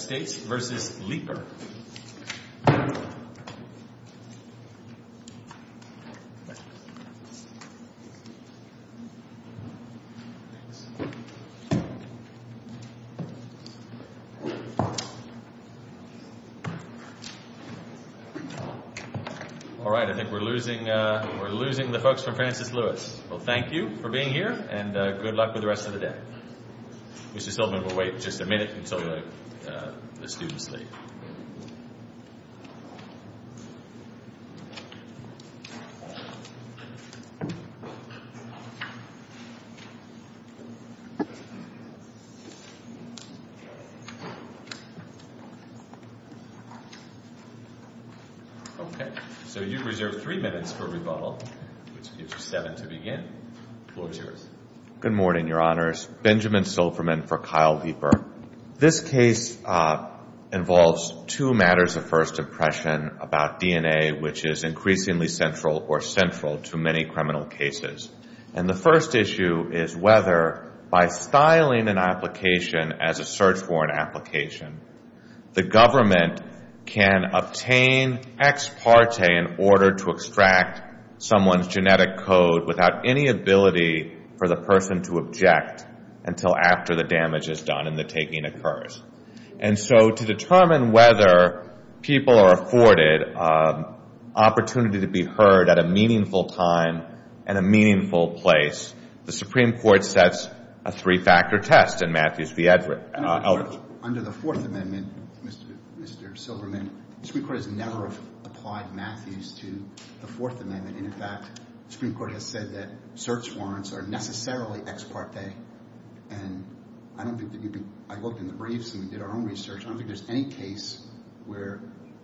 Alright, I think we're losing the folks from Francis Lewis. Thank you for being here and good luck with the rest of the day. Mr. Silverman will wait just a minute until the students leave. Okay, so you've reserved three minutes for rebuttal, which gives you seven to begin. The floor is yours. Good morning, Your Honors. Benjamin Silverman for Kyle Leeper. This case involves two matters of first impression about DNA, which is increasingly central or central to many criminal cases. And the first issue is whether, by styling an application as a search warrant application, the government can obtain ex parte in order to extract someone's genetic code without any ability for the person to object until after the damage is done and the taking occurs. And so to determine whether people are afforded opportunity to be heard at a meaningful time and a meaningful place, the Supreme Court sets a three-factor test in Matthews v. Edwards. I don't think there's any case where the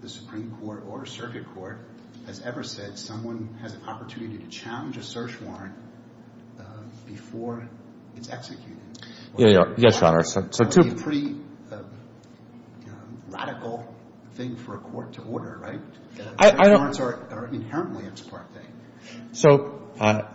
Supreme Court or a circuit court has ever said someone has an opportunity to challenge a search warrant before it's executed. That would be a pretty radical thing for a court to order, right? Search warrants are inherently an ex parte thing. So,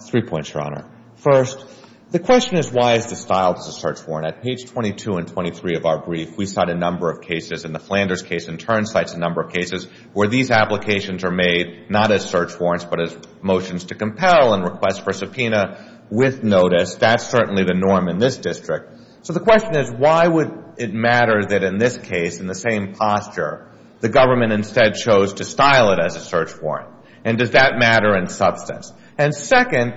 three points, Your Honor. First, the question is why is the style of the search warrant? At page 22 and 23 of our brief, we cite a number of cases, and the Flanders case in turn cites a number of cases where these applications are made not as search warrants but as motions to compel and requests for subpoena with notice. That's certainly the norm in this district. So the question is why would it matter that in this case, in the same posture, the government instead chose to style it as a search warrant? And does that matter in substance? And second,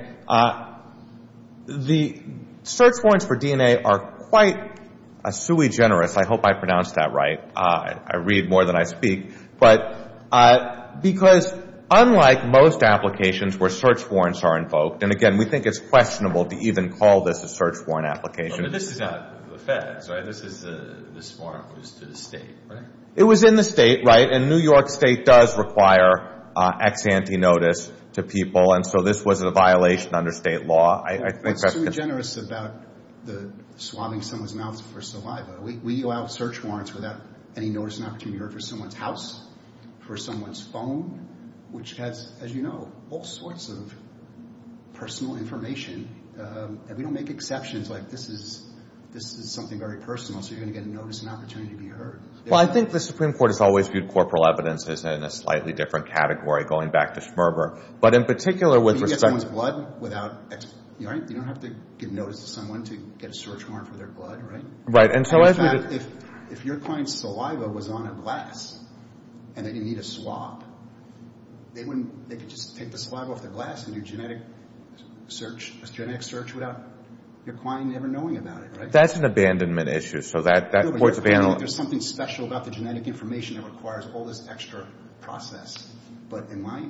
the search warrants for DNA are quite a sui generis. I hope I pronounced that right. I read more than I speak. But because unlike most applications where search warrants are invoked, and, again, we think it's questionable to even call this a search warrant application. But this is not the feds, right? This is this warrant was to the state, right? It was in the state, right? And New York State does require ex ante notice to people. And so this was a violation under state law. It's sui generis about the swabbing someone's mouth for saliva. We allow search warrants without any notice and opportunity to be heard for someone's house, for someone's phone, which has, as you know, all sorts of personal information. And we don't make exceptions. Like this is something very personal, so you're going to get a notice and opportunity to be heard. Well, I think the Supreme Court has always viewed corporal evidence as in a slightly different category, going back to Schmerber. When you get someone's blood, you don't have to give notice to someone to get a search warrant for their blood, right? In fact, if your client's saliva was on a glass and they didn't need a swab, they could just take the saliva off the glass and do a genetic search without your client ever knowing about it, right? That's an abandonment issue. There's something special about the genetic information that requires all this extra process. But in my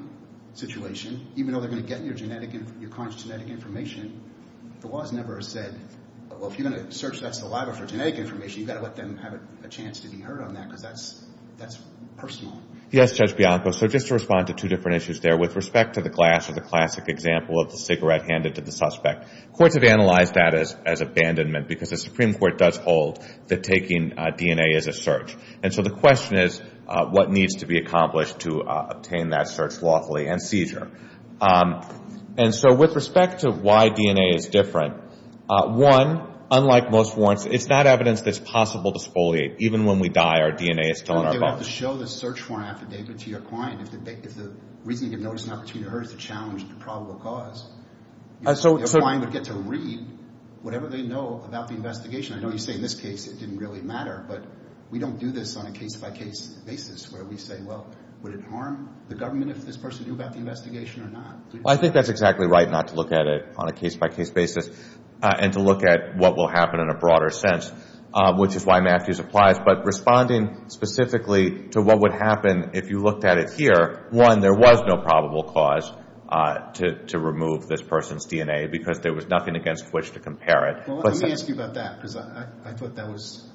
situation, even though they're going to get your conscious genetic information, the laws never have said, well, if you're going to search that saliva for genetic information, you've got to let them have a chance to be heard on that because that's personal. Yes, Judge Bianco, so just to respond to two different issues there, with respect to the glass or the classic example of the cigarette handed to the suspect, courts have analyzed that as abandonment because the Supreme Court does hold that taking DNA is a search. And so the question is, what needs to be accomplished to obtain that search lawfully and seizure? And so with respect to why DNA is different, one, unlike most warrants, it's not evidence that's possible to exfoliate. Even when we die, our DNA is still in our bones. They'll have to show the search warrant affidavit to your client if the reason you give notice and opportunity to her is to challenge the probable cause. Your client would get to read whatever they know about the investigation. I know you say in this case it didn't really matter, but we don't do this on a case-by-case basis where we say, well, would it harm the government if this person knew about the investigation or not? Well, I think that's exactly right not to look at it on a case-by-case basis and to look at what will happen in a broader sense, which is why Matthews applies. But responding specifically to what would happen if you looked at it here, one, there was no probable cause to remove this person's DNA because there was nothing against which to compare it. Well, let me ask you about that because I thought that was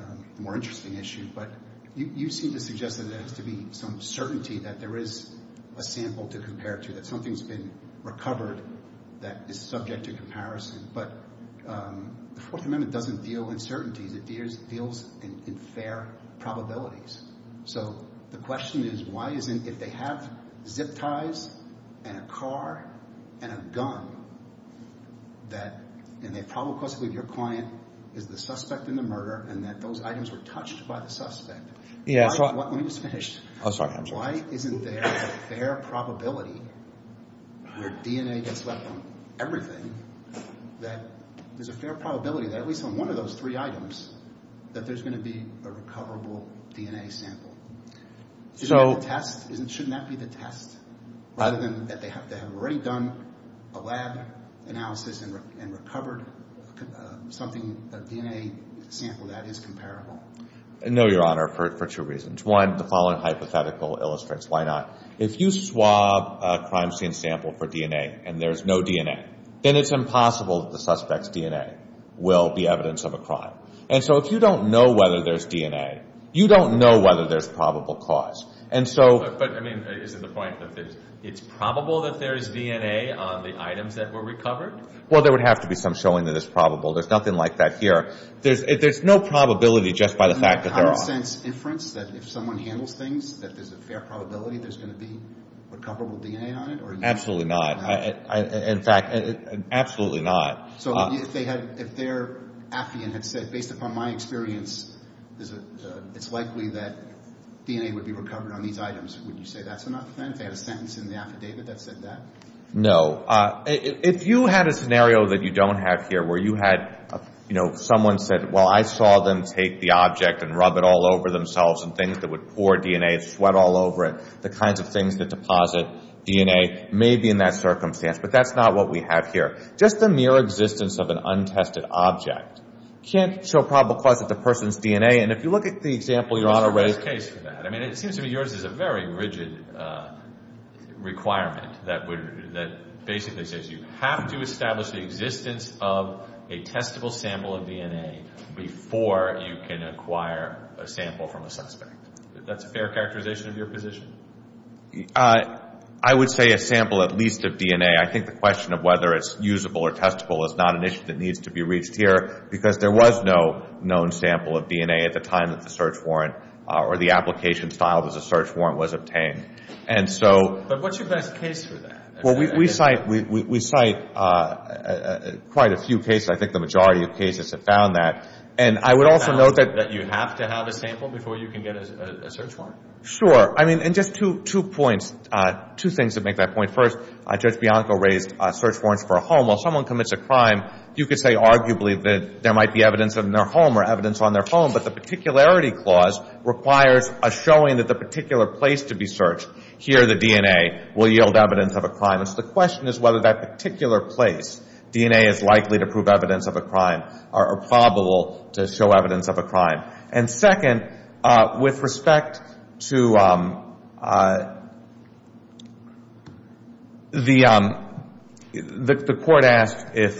a more interesting issue. But you seem to suggest that there has to be some certainty that there is a sample to compare to, that something's been recovered that is subject to comparison. But the Fourth Amendment doesn't deal in certainty. It deals in fair probabilities. So the question is why isn't, if they have zip ties and a car and a gun that, and they have probable cause to believe your client is the suspect in the murder and that those items were touched by the suspect. Let me just finish. Why isn't there a fair probability where DNA gets left on everything that there's a fair probability that at least on one of those three items that there's going to be a recoverable DNA sample? Shouldn't that be the test rather than that they have already done a lab analysis and recovered something, a DNA sample that is comparable? No, Your Honor, for two reasons. One, the following hypothetical illustrates why not. If you swab a crime scene sample for DNA and there's no DNA, then it's impossible that the suspect's DNA will be evidence of a crime. And so if you don't know whether there's DNA, you don't know whether there's probable cause. And so – But, I mean, is it the point that it's probable that there is DNA on the items that were recovered? Well, there would have to be some showing that it's probable. There's nothing like that here. There's no probability just by the fact that there are – Is there a common sense inference that if someone handles things, that there's a fair probability there's going to be recoverable DNA on it? Absolutely not. In fact, absolutely not. So if their affidavit had said, based upon my experience, it's likely that DNA would be recovered on these items, would you say that's an affidavit? They have a sentence in the affidavit that said that? No. If you had a scenario that you don't have here where you had, you know, someone said, well, I saw them take the object and rub it all over themselves and things that would pour DNA, sweat all over it, the kinds of things that deposit DNA may be in that circumstance. But that's not what we have here. Just the mere existence of an untested object can't show probable cause of the person's DNA. And if you look at the example Your Honor raised – There's no case for that. I mean, it seems to me yours is a very rigid requirement that basically says you have to establish the existence of a testable sample of DNA before you can acquire a sample from a suspect. That's a fair characterization of your position? I would say a sample at least of DNA. I think the question of whether it's usable or testable is not an issue that needs to be reached here because there was no known sample of DNA at the time that the search warrant or the application filed as a search warrant was obtained. But what's your best case for that? Well, we cite quite a few cases. I think the majority of cases have found that. And I would also note that you have to have a sample before you can get a search warrant. Sure. I mean, and just two points, two things to make that point. First, Judge Bianco raised search warrants for a home. While someone commits a crime, you could say arguably that there might be evidence in their home or evidence on their home, but the particularity clause requires a showing that the particular place to be searched, here the DNA, will yield evidence of a crime. And so the question is whether that particular place, DNA is likely to prove evidence of a crime or probable to show evidence of a crime. And second, with respect to the court asked if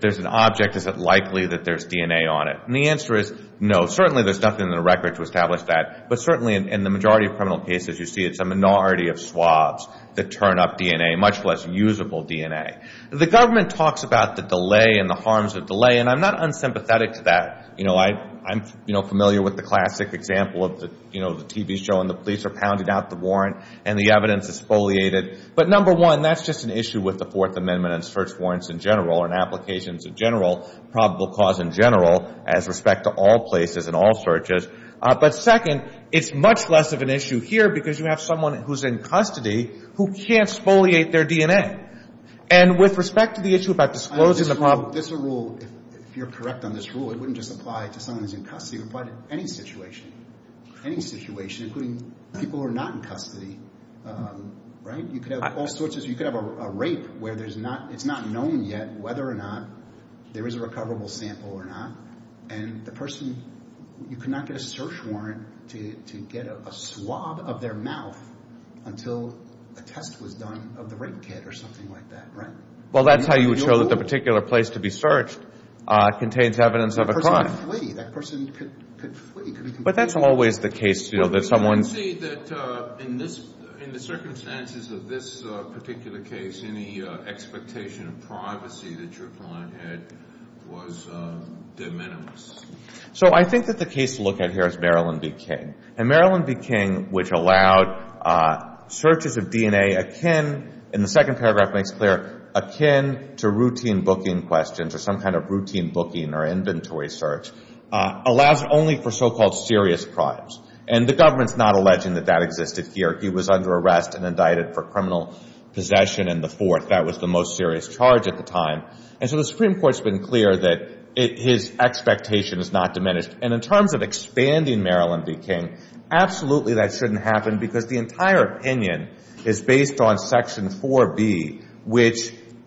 there's an object, is it likely that there's DNA on it? And the answer is no. Certainly there's nothing in the record to establish that, but certainly in the majority of criminal cases you see it's a minority of swabs that turn up DNA, much less usable DNA. The government talks about the delay and the harms of delay, and I'm not unsympathetic to that. I'm familiar with the classic example of the TV show and the police are pounding out the warrant and the evidence is foliated. But number one, that's just an issue with the Fourth Amendment and search warrants in general and applications in general, probable cause in general, as respect to all places and all searches. But second, it's much less of an issue here because you have someone who's in custody who can't foliate their DNA. And with respect to the issue about disclosing the problem. This is a rule. If you're correct on this rule, it wouldn't just apply to someone who's in custody. It would apply to any situation, any situation, including people who are not in custody. Right? You could have all sorts of – you could have a rape where there's not – it's not known yet whether or not there is a recoverable sample or not. And the person – you cannot get a search warrant to get a swab of their mouth until a test was done of the rape kit or something like that. Right? Well, that's how you would show that the particular place to be searched contains evidence of a crime. That person could flee. That person could flee. But that's always the case, you know, that someone's – I would say that in this – in the circumstances of this particular case, any expectation of privacy that your client had was de minimis. So I think that the case to look at here is Maryland v. King. And Maryland v. King, which allowed searches of DNA akin – and the second paragraph makes clear – akin to routine booking questions or some kind of routine booking or inventory search, allows only for so-called serious crimes. And the government's not alleging that that existed here. He was under arrest and indicted for criminal possession and the fourth. That was the most serious charge at the time. And so the Supreme Court's been clear that his expectation is not diminished. And in terms of expanding Maryland v. King, absolutely that shouldn't happen because the entire opinion is based on Section 4B, which, you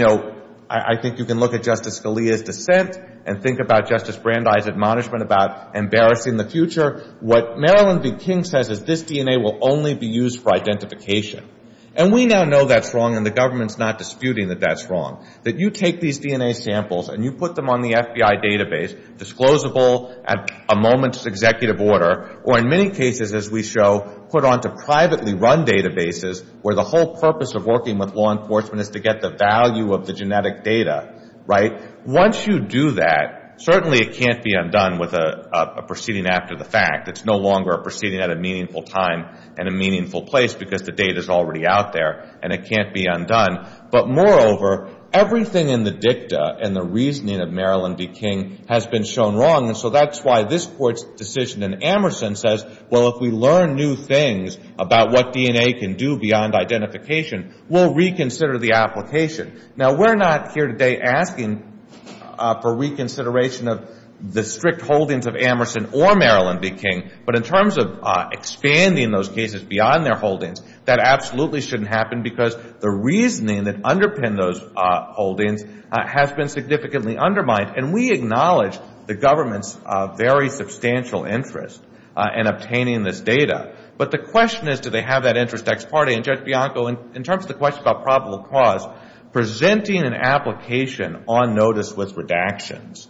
know, I think you can look at Justice Scalia's dissent and think about Justice Brandeis' admonishment about embarrassing the future. What Maryland v. King says is this DNA will only be used for identification. And we now know that's wrong and the government's not disputing that that's wrong, that you take these DNA samples and you put them on the FBI database, disclosable at a moment's executive order, or in many cases, as we show, put onto privately run databases where the whole purpose of working with law enforcement is to get the value of the genetic data, right? Once you do that, certainly it can't be undone with a proceeding after the fact. It's no longer a proceeding at a meaningful time and a meaningful place because the data's already out there and it can't be undone. But moreover, everything in the dicta and the reasoning of Maryland v. King has been shown wrong. And so that's why this Court's decision in Emerson says, well, if we learn new things about what DNA can do beyond identification, we'll reconsider the application. Now, we're not here today asking for reconsideration of the strict holdings of Emerson or Maryland v. King. But in terms of expanding those cases beyond their holdings, that absolutely shouldn't happen because the reasoning that underpinned those holdings has been significantly undermined. And we acknowledge the government's very substantial interest in obtaining this data. But the question is, do they have that interest ex parte? And Judge Bianco, in terms of the question about probable cause, presenting an application on notice with redactions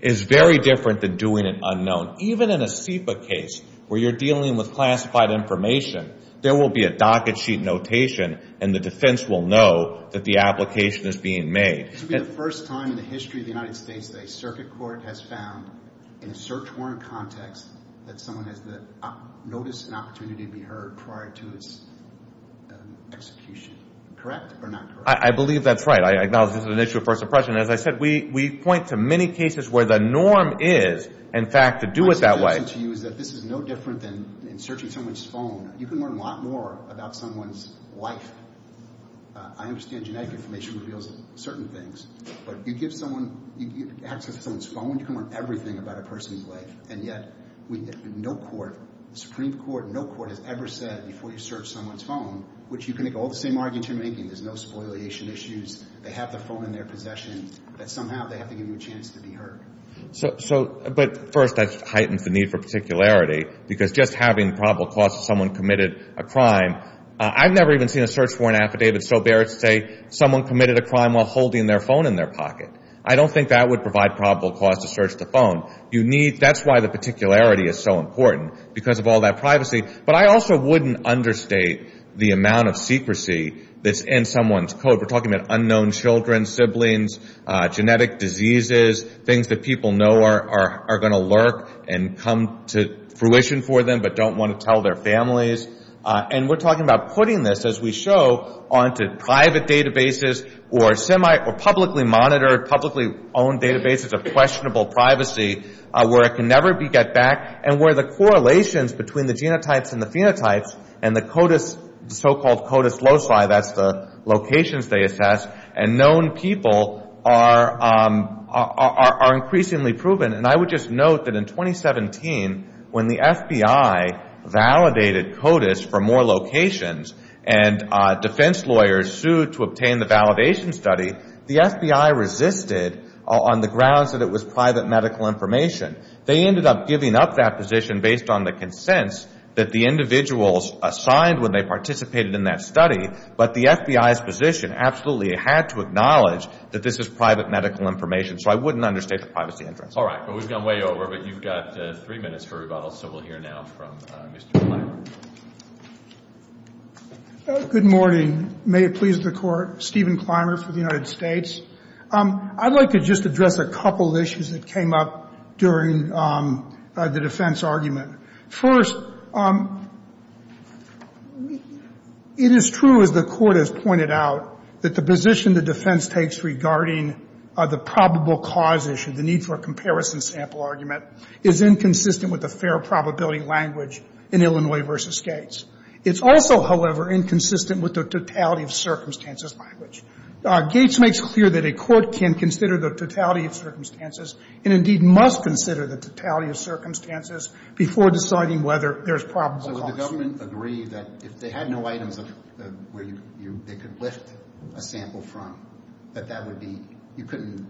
is very different than doing it unknown. Even in a SEPA case where you're dealing with classified information, there will be a docket sheet notation and the defense will know that the application is being made. This will be the first time in the history of the United States that a circuit court has found in a search warrant context that someone has the notice and opportunity to be heard prior to its execution. Correct or not correct? I believe that's right. I acknowledge this is an issue of first impression. As I said, we point to many cases where the norm is, in fact, to do it that way. My suggestion to you is that this is no different than in searching someone's phone. You can learn a lot more about someone's life. I understand genetic information reveals certain things. But you give someone access to someone's phone, you can learn everything about a person's life. And yet, no court, the Supreme Court, no court has ever said before you search someone's phone, which you can make all the same arguments you're making. There's no spoliation issues. They have the phone in their possession. But somehow they have to give you a chance to be heard. But first, that heightens the need for particularity because just having probable cause of someone committed a crime, I've never even seen a search warrant affidavit so bare to say someone committed a crime while holding their phone in their pocket. I don't think that would provide probable cause to search the phone. That's why the particularity is so important, because of all that privacy. But I also wouldn't understate the amount of secrecy that's in someone's code. We're talking about unknown children, siblings, genetic diseases, things that people know are going to lurk and come to fruition for them but don't want to tell their families. And we're talking about putting this, as we show, onto private databases or publicly monitored, publicly owned databases of questionable privacy where it can never get back. And where the correlations between the genotypes and the phenotypes and the so-called CODIS loci, that's the locations they assess, and known people are increasingly proven. And I would just note that in 2017, when the FBI validated CODIS for more locations and defense lawyers sued to obtain the validation study, the FBI resisted on the grounds that it was private medical information. They ended up giving up that position based on the consents that the individuals assigned when they participated in that study. But the FBI's position absolutely had to acknowledge that this is private medical information. So I wouldn't understate the privacy interest. All right. Well, we've gone way over, but you've got three minutes for rebuttal, so we'll hear now from Mr. Clymer. Good morning. May it please the Court. Stephen Clymer for the United States. I'd like to just address a couple of issues that came up during the defense argument. First, it is true, as the Court has pointed out, that the position the defense takes regarding the probable cause issue, the need for a comparison sample argument, is inconsistent with the fair probability language in Illinois v. Gates. It's also, however, inconsistent with the totality of circumstances language. Gates makes clear that a court can consider the totality of circumstances and indeed must consider the totality of circumstances before deciding whether there's probable cause. So would the government agree that if they had no items where they could lift a sample from, that that would be – you couldn't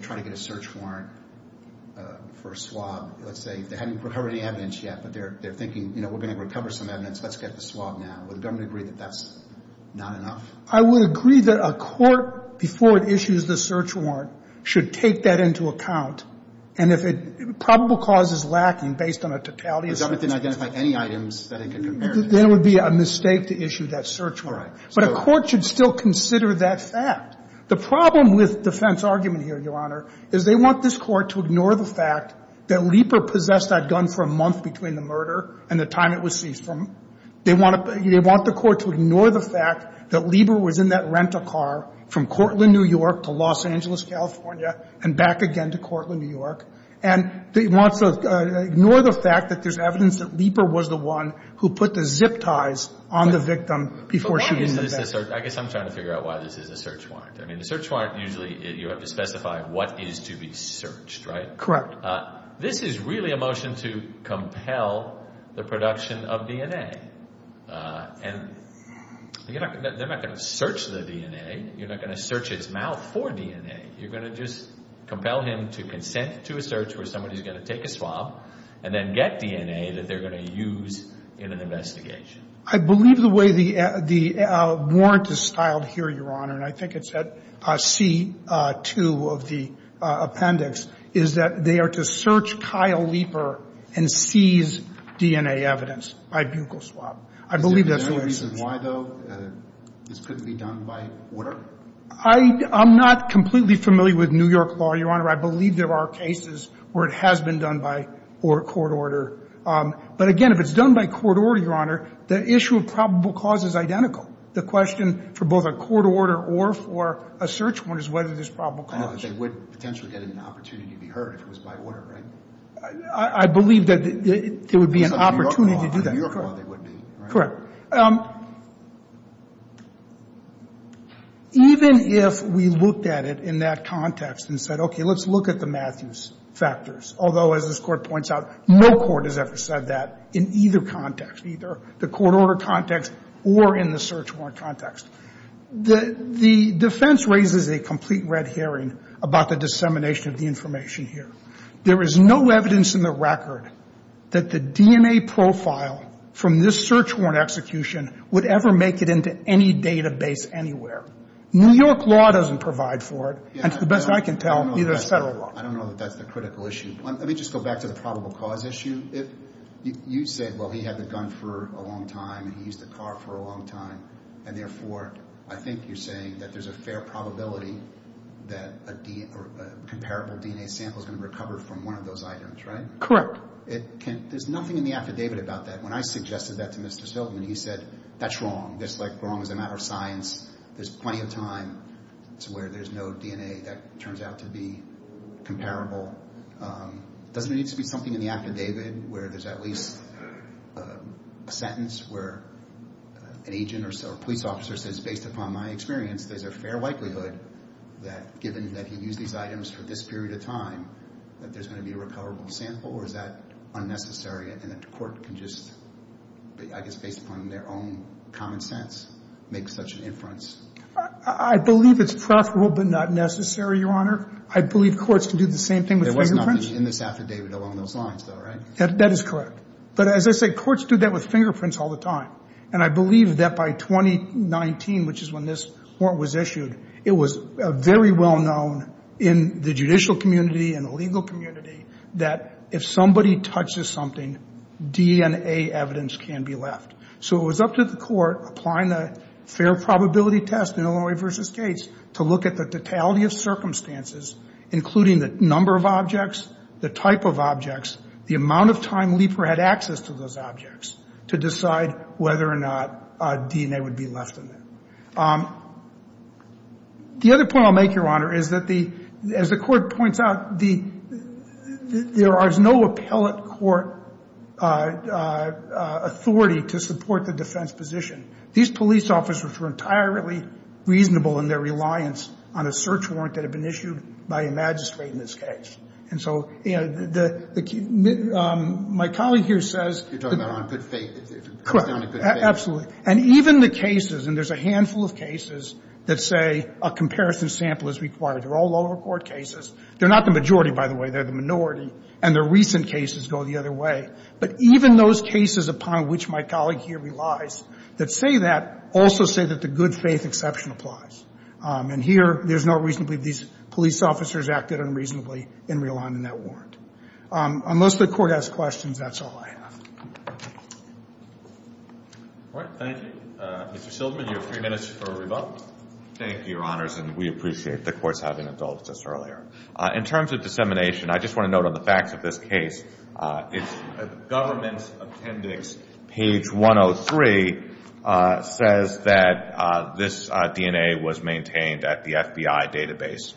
try to get a search warrant for a swab. Let's say they haven't recovered any evidence yet, but they're thinking, you know, we're going to recover some evidence. Let's get the swab now. Would the government agree that that's not enough? I would agree that a court, before it issues the search warrant, should take that into account. And if a probable cause is lacking based on a totality of circumstances. The government didn't identify any items that it could compare to. Then it would be a mistake to issue that search warrant. All right. But a court should still consider that fact. The problem with defense argument here, Your Honor, is they want this Court to ignore the fact that Leeper possessed that gun for a month between the murder and the time it was seized from. They want the Court to ignore the fact that Leeper was in that rental car from Cortland, New York, to Los Angeles, California, and back again to Cortland, New York. And they want to ignore the fact that there's evidence that Leeper was the one who put the zip ties on the victim before she used the gun. But why is this a search? I guess I'm trying to figure out why this is a search warrant. I mean, a search warrant, usually you have to specify what is to be searched, right? Correct. This is really a motion to compel the production of DNA. And they're not going to search the DNA. You're not going to search its mouth for DNA. You're going to just compel him to consent to a search where somebody is going to take a swab and then get DNA that they're going to use in an investigation. I believe the way the warrant is styled here, Your Honor, and I think it's at C2 of the appendix, is that they are to search Kyle Leeper and seize DNA evidence by buccal swab. I believe that's the way it's styled. Is there any reason why, though, this couldn't be done by order? I'm not completely familiar with New York law, Your Honor. I believe there are cases where it has been done by court order. But, again, if it's done by court order, Your Honor, the issue of probable cause is identical. The question for both a court order or for a search warrant is whether there's probable cause. They would potentially get an opportunity to be heard if it was by order, right? I believe that there would be an opportunity to do that. In New York law, they would be, right? Correct. Even if we looked at it in that context and said, okay, let's look at the Matthews factors, although, as this Court points out, no court has ever said that in either context, either the court order context or in the search warrant context. The defense raises a complete red herring about the dissemination of the information here. There is no evidence in the record that the DNA profile from this search warrant execution would ever make it into any database anywhere. New York law doesn't provide for it. And to the best I can tell, neither does federal law. I don't know that that's the critical issue. Let me just go back to the probable cause issue. You say, well, he had the gun for a long time and he used the car for a long time. And, therefore, I think you're saying that there's a fair probability that a comparable DNA sample is going to recover from one of those items, right? Correct. There's nothing in the affidavit about that. When I suggested that to Mr. Silverman, he said, that's wrong. That's, like, wrong as a matter of science. There's plenty of time where there's no DNA that turns out to be comparable. Doesn't it need to be something in the affidavit where there's at least a sentence where an agent or police officer says, based upon my experience, there's a fair likelihood that, given that he used these items for this period of time, that there's going to be a recoverable sample? Or is that unnecessary and that the court can just, I guess, based upon their own common sense, make such an inference? I believe it's profitable but not necessary, Your Honor. I believe courts can do the same thing with fingerprints. There was nothing in this affidavit along those lines, though, right? That is correct. But, as I say, courts do that with fingerprints all the time. And I believe that by 2019, which is when this warrant was issued, it was very well known in the judicial community and the legal community that if somebody touches something, DNA evidence can be left. So it was up to the court, applying the fair probability test in Illinois v. Gates, to look at the totality of circumstances, including the number of objects, the type of objects, the amount of time Lieper had access to those objects, to decide whether or not DNA would be left in there. The other point I'll make, Your Honor, is that, as the court points out, there is no appellate court authority to support the defense position. These police officers were entirely reasonable in their reliance on a search warrant that had been issued by a magistrate in this case. And so, you know, the key – my colleague here says that – You're talking about on good faith. Correct. It comes down to good faith. Absolutely. And even the cases – and there's a handful of cases that say a comparison sample is required. They're all lower court cases. They're not the majority, by the way. They're the minority. And the recent cases go the other way. But even those cases upon which my colleague here relies that say that also say that the good faith exception applies. And here, there's no reason to believe these police officers acted unreasonably in relying on that warrant. Unless the court has questions, that's all I have. All right. Thank you. Mr. Silverman, you have three minutes for a rebuttal. Thank you, Your Honors. And we appreciate the court's having adults just earlier. In terms of dissemination, I just want to note on the facts of this case, government's appendix, page 103, says that this DNA was maintained at the FBI database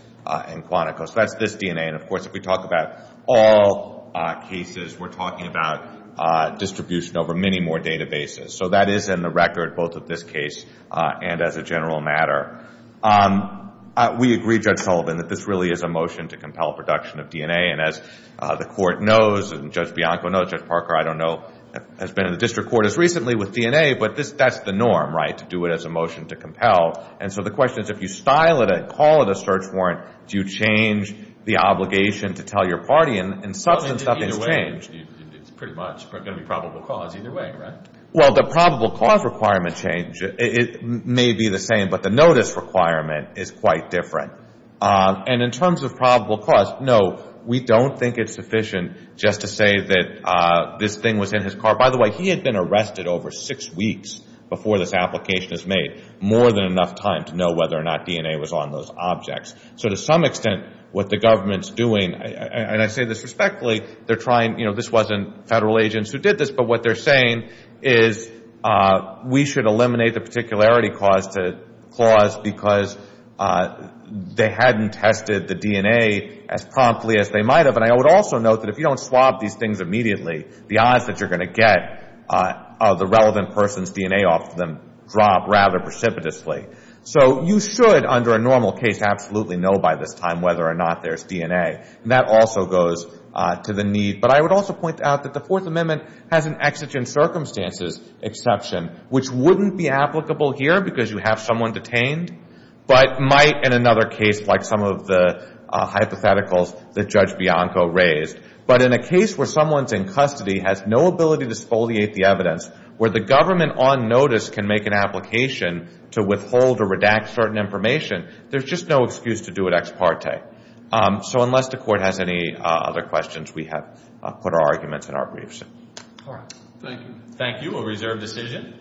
in Quantico. So that's this DNA. And, of course, if we talk about all cases, we're talking about distribution over many more databases. So that is in the record, both of this case and as a general matter. We agree, Judge Sullivan, that this really is a motion to compel production of DNA. And as the court knows, and Judge Bianco knows, Judge Parker, I don't know, has been in the district court as recently with DNA. But that's the norm, right, to do it as a motion to compel. And so the question is, if you style it and call it a search warrant, do you change the obligation to tell your party? And in substance, nothing's changed. It's pretty much going to be probable cause either way, right? Well, the probable cause requirement change, it may be the same, but the notice requirement is quite different. And in terms of probable cause, no, we don't think it's sufficient just to say that this thing was in his car. By the way, he had been arrested over six weeks before this application was made, more than enough time to know whether or not DNA was on those objects. So to some extent, what the government's doing, and I say this respectfully, they're trying, you know, this wasn't federal agents who did this, but what they're saying is we should eliminate the particularity clause because they hadn't tested the DNA as promptly as they might have. And I would also note that if you don't swap these things immediately, the odds that you're going to get the relevant person's DNA off them drop rather precipitously. So you should, under a normal case, absolutely know by this time whether or not there's DNA. And that also goes to the need. But I would also point out that the Fourth Amendment has an exigent circumstances exception, which wouldn't be applicable here because you have someone detained, but might in another case like some of the hypotheticals that Judge Bianco raised. But in a case where someone's in custody, has no ability to exfoliate the evidence, where the government on notice can make an application to withhold or redact certain information, there's just no excuse to do it ex parte. So unless the Court has any other questions, we have put our arguments in our briefs. All right. Thank you. Thank you. A reserved decision.